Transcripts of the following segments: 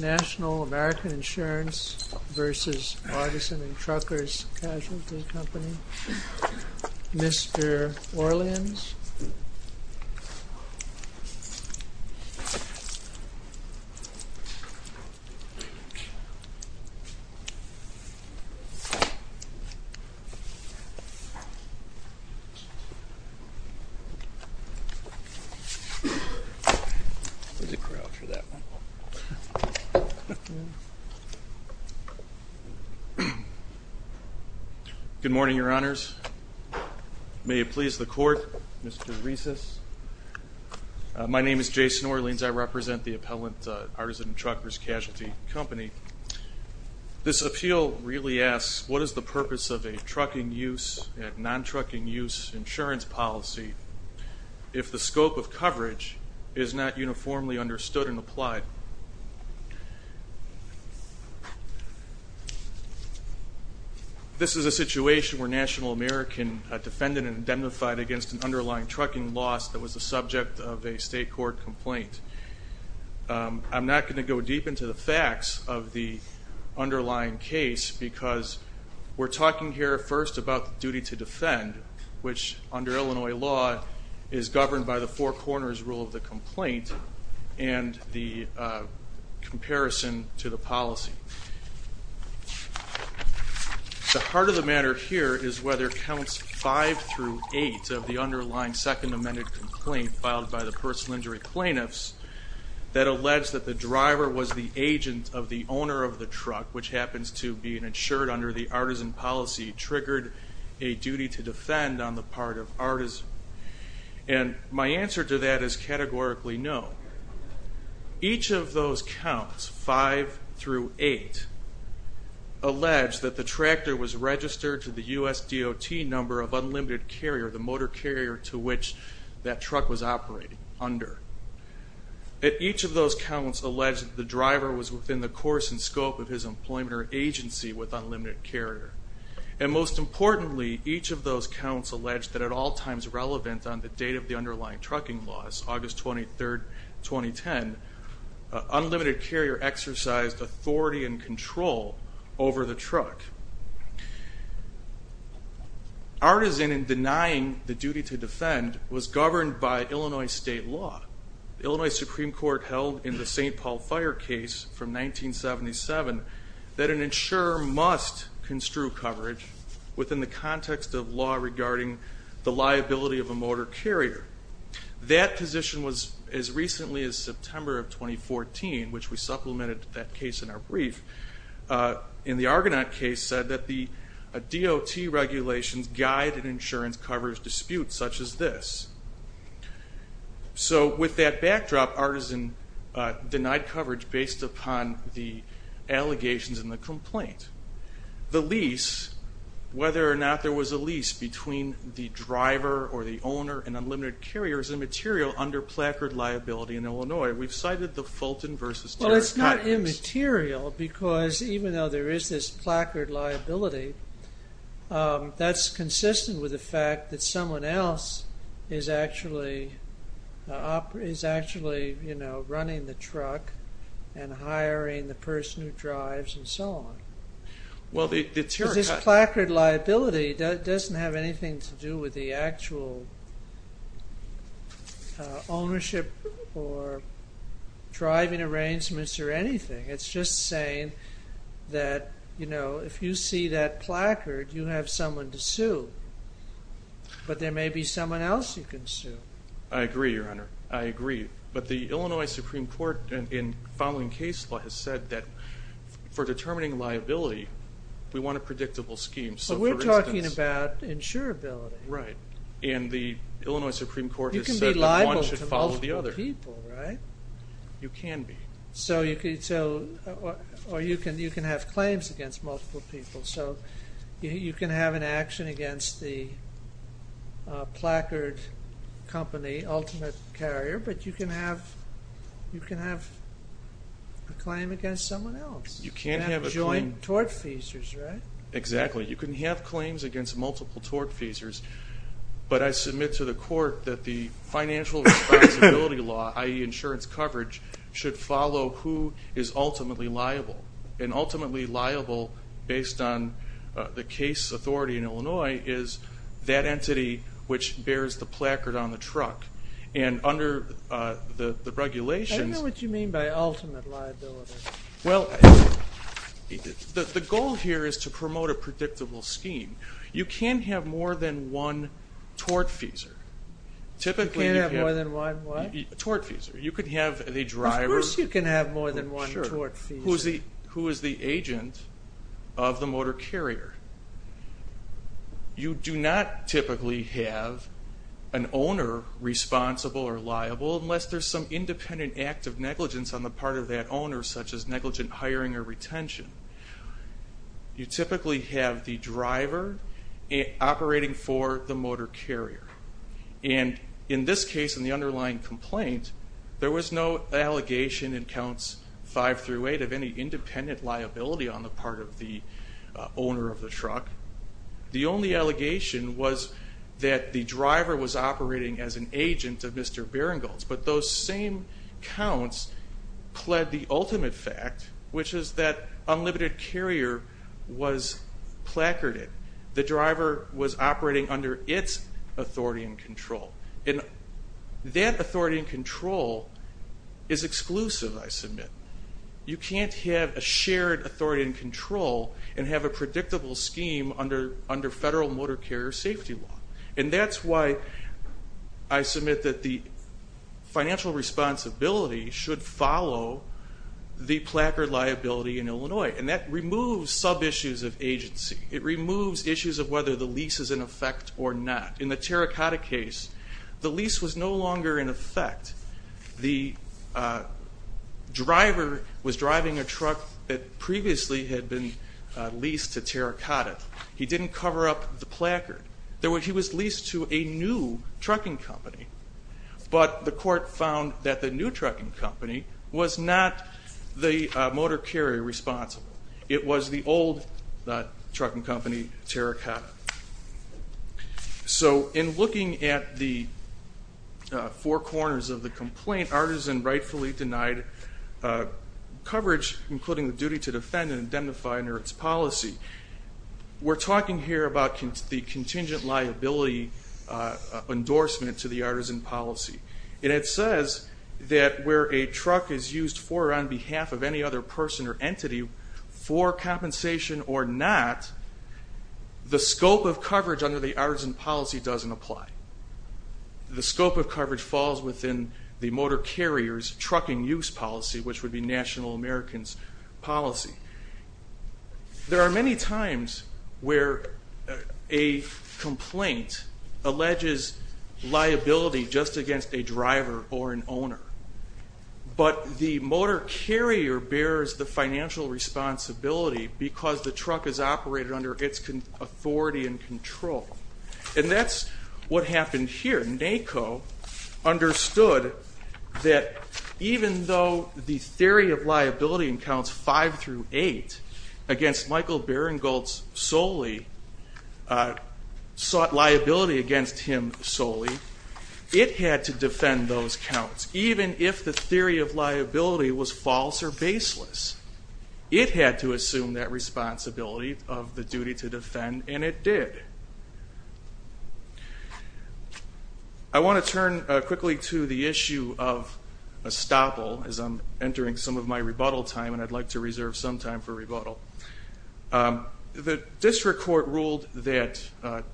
National American Insurance v. Artisan and Truckers Casualty National American Insurance v. Artisan and Truckers Casualty Good morning, your honors. May it please the court, Mr. Riesses. My name is Jason Orleans. I represent the appellant, Artisan and Truckers Casualty Company. This appeal really asks, what is the purpose of a trucking use and non-trucking use insurance policy if the scope of coverage is not uniformly understood and applied? This is a situation where a National American defendant identified against an underlying trucking loss that was the subject of a state court complaint. I'm not going to go deep into the facts of the underlying case because we're talking here first about the duty to which, under Illinois law, is governed by the Four Corners rule of the complaint and the comparison to the policy. The heart of the matter here is whether counts five through eight of the underlying second amended complaint filed by the personal injury plaintiffs that allege that the driver was the agent of the owner of the truck, which happens to be an insured under the artisan policy, triggered a duty to defend on the part of artisan. My answer to that is categorically no. Each of those counts, five through eight, allege that the tractor was registered to the USDOT number of unlimited carrier, the motor carrier to which that truck was operating under. Each of those counts allege that the driver was within the course and scope of his employment or agency with unlimited carrier. And most importantly, each of those counts allege that at all times relevant on the date of the underlying trucking loss, August 23rd, 2010, unlimited carrier exercised authority and control over the truck. Artisan in denying the duty to defend was governed by Illinois state law. Illinois Supreme Court held in the St. Paul fire case from 1977 that an insurer must construe coverage within the context of law regarding the liability of a motor carrier. That position was as recently as September of 2014, which we supplemented that case in our brief. In the Argonaut case said that the DOT regulations guide an insurance coverage dispute such as this. So with that backdrop, Artisan denied coverage based upon the allegations and the complaint. The lease, whether or not there was a lease between the driver or the owner and unlimited carrier is immaterial under placard liability in Illinois. We've cited the Fulton v. Terry. Well it's not immaterial because even though there is this placard liability, that's consistent with the fact that someone else is actually running the truck and hiring the person who drives and so on. This placard liability doesn't have anything to do with the actual ownership or driving arrangements or anything. It's just saying that if you see that placard, you have someone to sue. But there may be someone else you can sue. I agree, Your Honor. I agree. But the Illinois Supreme Court in following case law has said that for determining liability, we want a predictable scheme. So we're talking about insurability. Right. And the Illinois Supreme Court has said that one should follow the other. You can be liable to multiple people, right? You can have an action against the placard company, Ultimate Carrier, but you can have a claim against someone else. You can't have joint tort feasors, right? Exactly. You can have claims against multiple tort feasors, but I submit to the court that the financial responsibility law, i.e. insurance coverage, should follow who is ultimately liable. And ultimately liable, based on the case authority in Illinois, is that entity which bears the placard on the truck. And under the regulations... I don't know what you mean by ultimate liability. Well, the goal here is to promote a predictable scheme. You can't have more than one tort feasor. You can't have more than one what? Tort feasor. You could have the driver... Who is the agent of the motor carrier? You do not typically have an owner responsible or liable unless there's some independent act of negligence on the part of that owner, such as negligent hiring or retention. You typically have the driver operating for the motor carrier. And in this case, in the underlying complaint, there was no allegation in counts five through eight of any independent liability on the part of the owner of the truck. The only allegation was that the driver was operating as an agent of Mr. Berengal's. But those same counts pled the ultimate fact, which is that Unlimited Carrier was placarded. The driver was operating under its authority and control. And that authority and control is exclusive, I submit. You can't have a shared authority and control and have a predictable scheme under federal motor carrier safety law. And that's why I submit that the financial responsibility should follow the placard liability in Illinois. And that removes sub-issues of agency. It removes issues of whether the lease is in effect or not. In the Terracotta case, the driver was driving a truck that previously had been leased to Terracotta. He didn't cover up the placard. He was leased to a new trucking company. But the court found that the new trucking company was not the motor carrier responsible. It was the old trucking company, Terracotta. So in looking at the four corners of the complaint, Artisan rightfully denied coverage including the duty to defend and identify under its policy. We're talking here about the contingent liability endorsement to the Artisan policy. And it says that where a truck is used for or on behalf of any other person or entity for compensation or not, the scope of coverage under the Artisan policy doesn't apply. The scope of coverage falls within the motor carrier's trucking use policy, which would be National American's policy. There are many times where a complaint alleges liability just against a driver or an owner. But the motor carrier bears the financial responsibility because the truck is operated under its authority and control. And that's what happened here. NACO understood that even though the theory of liability in counts five through eight against Michael Beringholtz solely sought liability against him solely, it had to defend those counts even if the driver was not on behalf of Michael Beringholtz. And it did. I want to turn quickly to the issue of estoppel as I'm entering some of my rebuttal time. And I'd like to reserve some time for rebuttal. The district court ruled that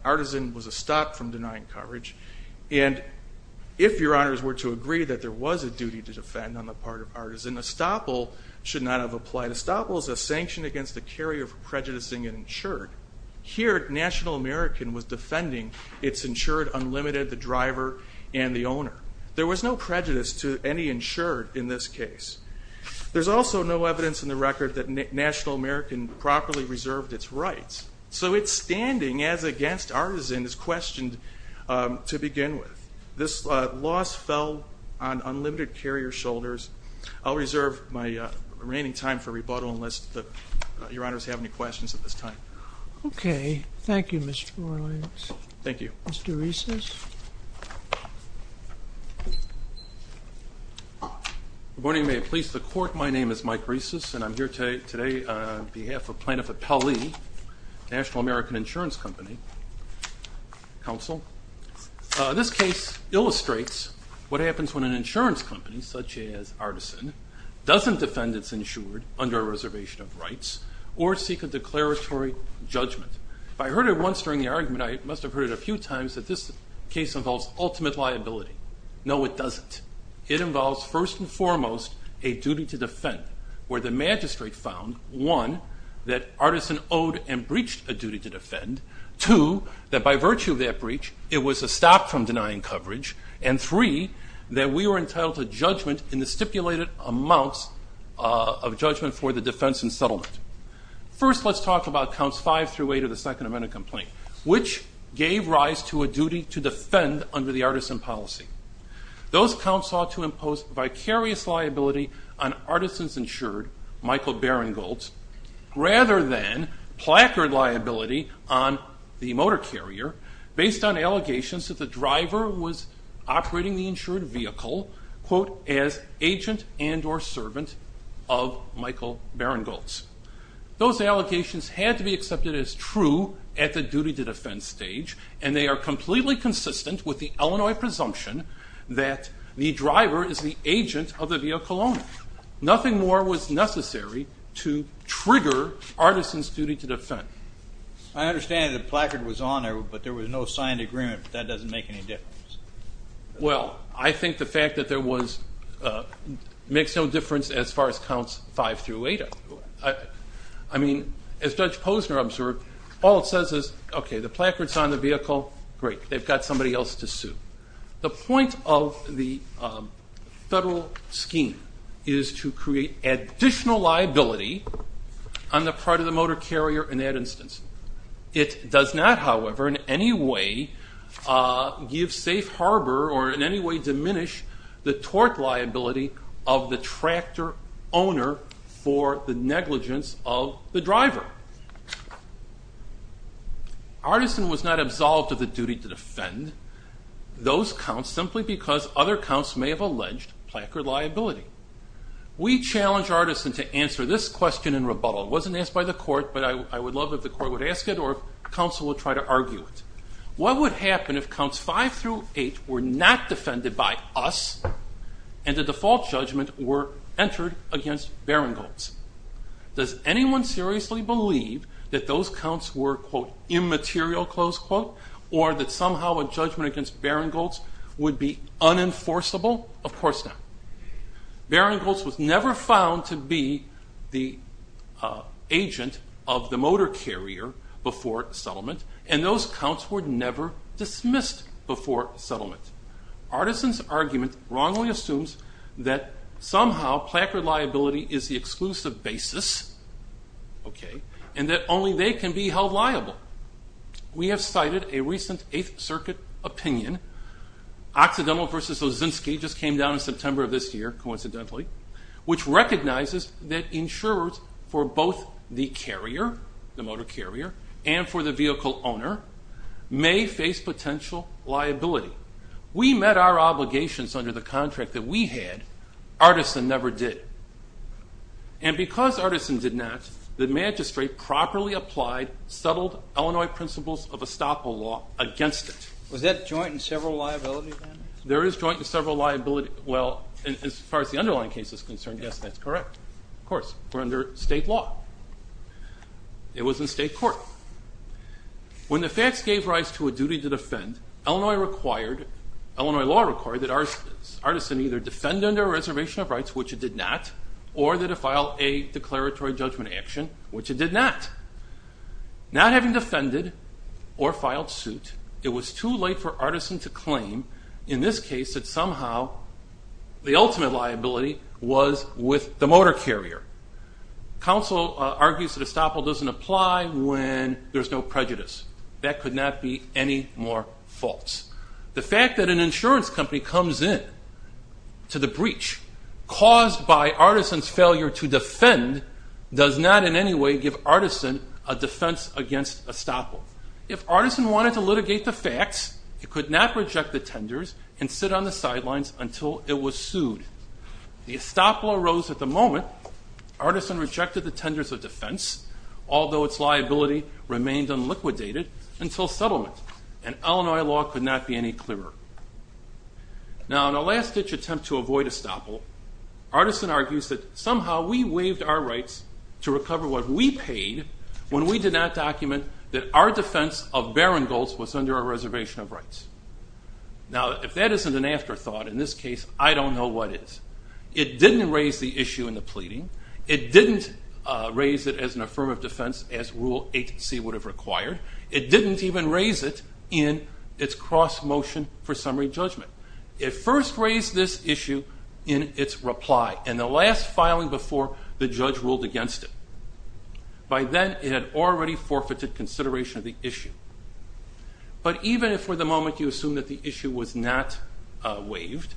Artisan was a stop from denying coverage. And if your honors were to agree that there was a duty to defend on the part of Artisan, estoppel should not have applied. Estoppel is a sanction against a carrier for prejudicing an insured. Here, NACO was defending its insured unlimited, the driver, and the owner. There was no prejudice to any insured in this case. There's also no evidence in the record that NACO properly reserved its rights. So its standing as against Artisan is questioned to begin with. This loss fell on NACO's shoulders. I'll reserve my remaining time for rebuttal unless your honors have any questions at this time. Okay. Thank you, Mr. Moreland. Thank you. Mr. Rieses. Good morning. May it please the court, my name is Mike Rieses and I'm here today on behalf of Plaintiff Appellee, National American Insurance Company, counsel. This case illustrates what happens when an insurance company such as Artisan doesn't defend its insured under a reservation of rights or seek a declaratory judgment. If I heard it once during the argument, I must have heard it a few times that this case involves ultimate liability. No, it doesn't. It involves first and foremost a duty to defend where the magistrate found, one, that Artisan owed and breached a duty to defend, two, that by virtue of that breach, it was a stop from denying coverage, and three, that we were entitled to judgment in the stipulated amounts of judgment for the defense and settlement. First let's talk about Counts 5 through 8 of the Second Amendment Complaint, which gave rise to a duty to defend under the Artisan policy. Those counts ought to impose vicarious liability on Artisan's insured, Michael Beringholtz, rather than placard liability on the motor carrier, based on allegations that the driver was operating the insured vehicle, quote, as agent and or servant of Michael Beringholtz. Those allegations had to be accepted as true at the duty to defend stage, and they are completely consistent with the Illinois presumption that the driver is the agent of the vehicle only. Nothing more was necessary to trigger Artisan's duty to defend. I understand the placard was on there, but there was no signed agreement, but that doesn't make any difference. Well, I think the fact that there was, makes no difference as far as Counts 5 through 8. I mean, as Judge Posner observed, all it says is, okay, the placard's on the vehicle, great, they've got somebody else to sue. The point of the federal scheme is to create additional liability on the part of the motor carrier in that instance. It does not, however, in any way give safe harbor or in any way diminish the tort liability of the tractor owner for the negligence of the driver. Artisan was not absolved of the duty to defend those counts simply because other counts may have alleged placard liability. We challenge Artisan to answer this question in rebuttal. It wasn't asked by the court, but I would love if the court would ask it or if counsel would try to argue it. What would happen if Counts 5 through 8 were not defended by us and the default judgment were entered against Beringholtz? Does anyone seriously believe that those counts were, quote, immaterial, close quote, or that somehow a judgment against Beringholtz would be unenforceable? Of course not. Beringholtz was never found to be the agent of the motor carrier before settlement, and those counts were never dismissed before settlement. Artisan's argument wrongly assumes that somehow placard liability is the exclusive basis, okay, and that only they can be held liable. We have cited a recent 8th Circuit opinion, Occidental v. Lozinski, just came down in September of this year, coincidentally, which recognizes that insurers for both the carrier, the motor carrier, and for the vehicle owner may face potential liability. We met our obligations under the contract that we had. Artisan never did. And because Artisan did not, the magistrate properly applied settled Illinois principles of estoppel law against it. Was that joint and several liability then? There is joint and several liability. Well, as far as the underlying case is concerned, yes, that's correct. Of course, we're under state law. It was in state court. When the facts gave rise to a duty to defend, Illinois required, Illinois law required that Artisan either defend under a reservation of rights, which it did not, or that it file a declaratory judgment action, which it did not. Not having defended or filed suit, it was too late for Artisan to claim in this case that somehow the ultimate liability was with the motor carrier. Counsel argues that estoppel doesn't apply when there's no prejudice. That could not be any more false. The fact that an insurance company comes in to the breach caused by Artisan's failure to defend does not in any way give Artisan a defense against estoppel. If Artisan wanted to litigate the facts, he could not reject the tenders and sit on the sidelines until it was sued. The estoppel arose at the moment. Artisan rejected the settlement, and Illinois law could not be any clearer. Now, in a last-ditch attempt to avoid estoppel, Artisan argues that somehow we waived our rights to recover what we paid when we did not document that our defense of barren golds was under our reservation of rights. Now, if that isn't an afterthought, in this case, I don't know what is. It didn't raise the issue in the pleading. It didn't raise it as an affirmative defense as Rule 8c would have required. It didn't even raise it in its cross-motion for summary judgment. It first raised this issue in its reply, in the last filing before the judge ruled against it. By then, it had already forfeited consideration of the issue. But even if for the moment you assume that the issue was not waived,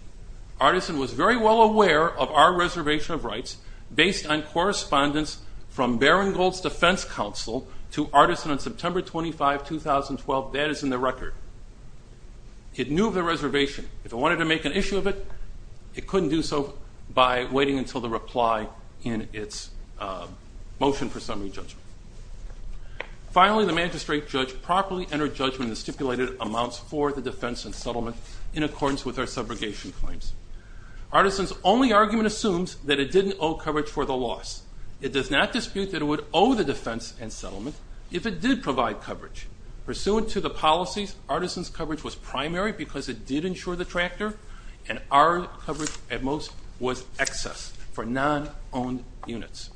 Artisan was very well aware of our reservation of defense counsel to Artisan on September 25, 2012. That is in the record. It knew of the reservation. If it wanted to make an issue of it, it couldn't do so by waiting until the reply in its motion for summary judgment. Finally, the magistrate judge properly entered judgment in the stipulated amounts for the defense and settlement in accordance with our subrogation claims. Artisan's only argument assumes that it didn't owe coverage for the loss. It does not dispute that it would owe the defense and settlement if it did provide coverage. Pursuant to the policies, Artisan's coverage was primary because it did insure the tractor, and our coverage at most was excess for non-owned units.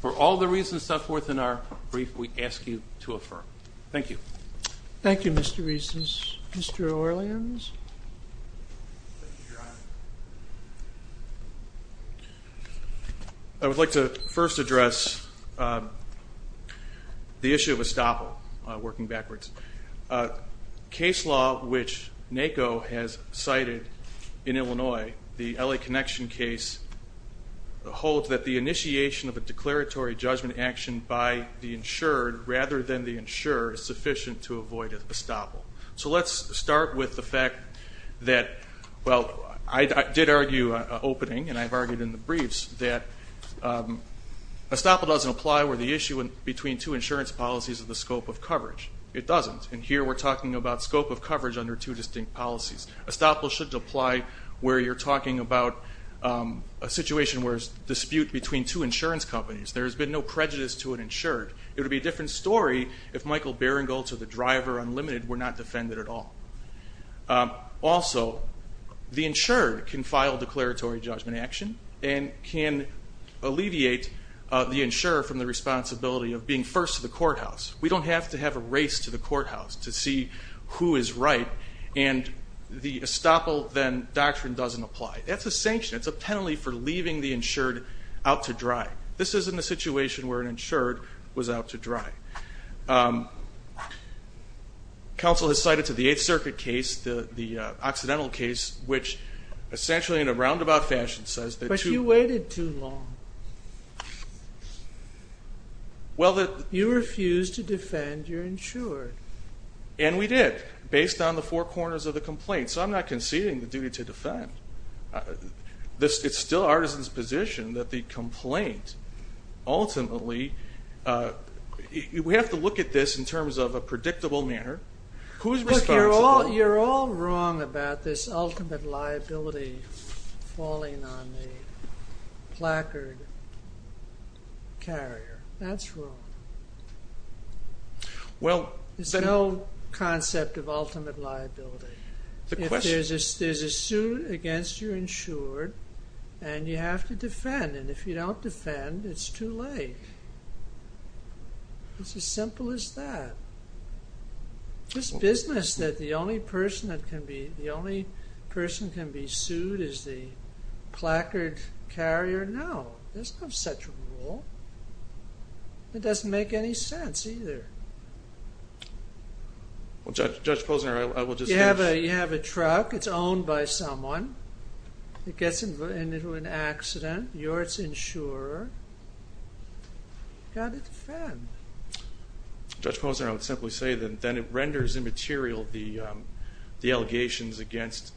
For all the reasons set forth in our brief, we ask you to affirm. Thank you. Thank you, Mr. Rees. Mr. Orleans? I would like to first address the issue of estoppel, working backwards. Case law which NACO has cited in Illinois, the L.A. Connection case, holds that the initiation of a declaratory judgment action by the insured rather than the insurer is sufficient to avoid estoppel. So let's start with the fact that, well, I did argue opening and I've argued in the briefs that estoppel doesn't apply where the issue between two insurance policies is the scope of coverage. It doesn't. And here we're talking about scope of coverage under two distinct policies. Estoppel should apply where you're talking about a situation where there's dispute between two insurance companies. There's been no prejudice to an insured. It would be a different story if Michael Beringholtz or the driver Unlimited were not defended at all. Also, the insured can file declaratory judgment action and can alleviate the insurer from the responsibility of being first to the courthouse. We don't have to have a race to the courthouse to see who is right, and the estoppel then doctrine doesn't apply. That's a sanction. It's a penalty for leaving the insured out to dry. This isn't a situation where an insured was out to dry. Council has cited to the Eighth Circuit case, the accidental case, which essentially in a roundabout fashion says that two- But you waited too long. You refused to defend your insured. And we did, based on the four corners of the complaint. So I'm not conceding the duty to the insured. It's still Artisan's position that the complaint ultimately, we have to look at this in terms of a predictable manner. Who's responsible? You're all wrong about this ultimate liability falling on the placard carrier. That's wrong. There's no concept of ultimate liability. If there's a suit against your insured, and you have to defend, and if you don't defend, it's too late. It's as simple as that. This business that the only person that can be, the only person that can be sued is the placard carrier. No, there's no such rule. It doesn't make any sense either. Judge Posner, I will just- You have a truck. It's owned by someone. It gets into an accident. You're its insurer. You've got to defend. Judge Posner, I would simply say that it renders immaterial the allegations against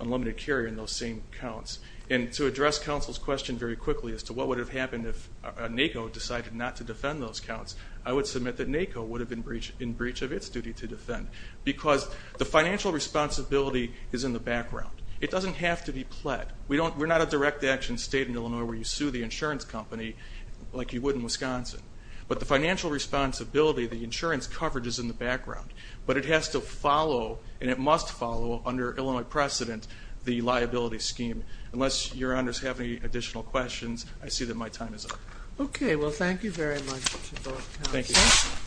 unlimited carrier in those same counts. And to address counsel's question very quickly as to what would have happened if NACO decided not to defend those counts, I would submit that NACO would have been in breach of its duty to defend. Because the financial responsibility is in the background. It doesn't have to be pled. We're not a direct action state in Illinois where you sue the insurance company like you would in Wisconsin. But the financial responsibility, the insurance coverage is in the background. But it has to follow, and it must follow, under Illinois precedent, the liability scheme. Unless your honors have any additional questions, I see that my time is up. Okay. Well, thank you very much to both counsels. Thank you.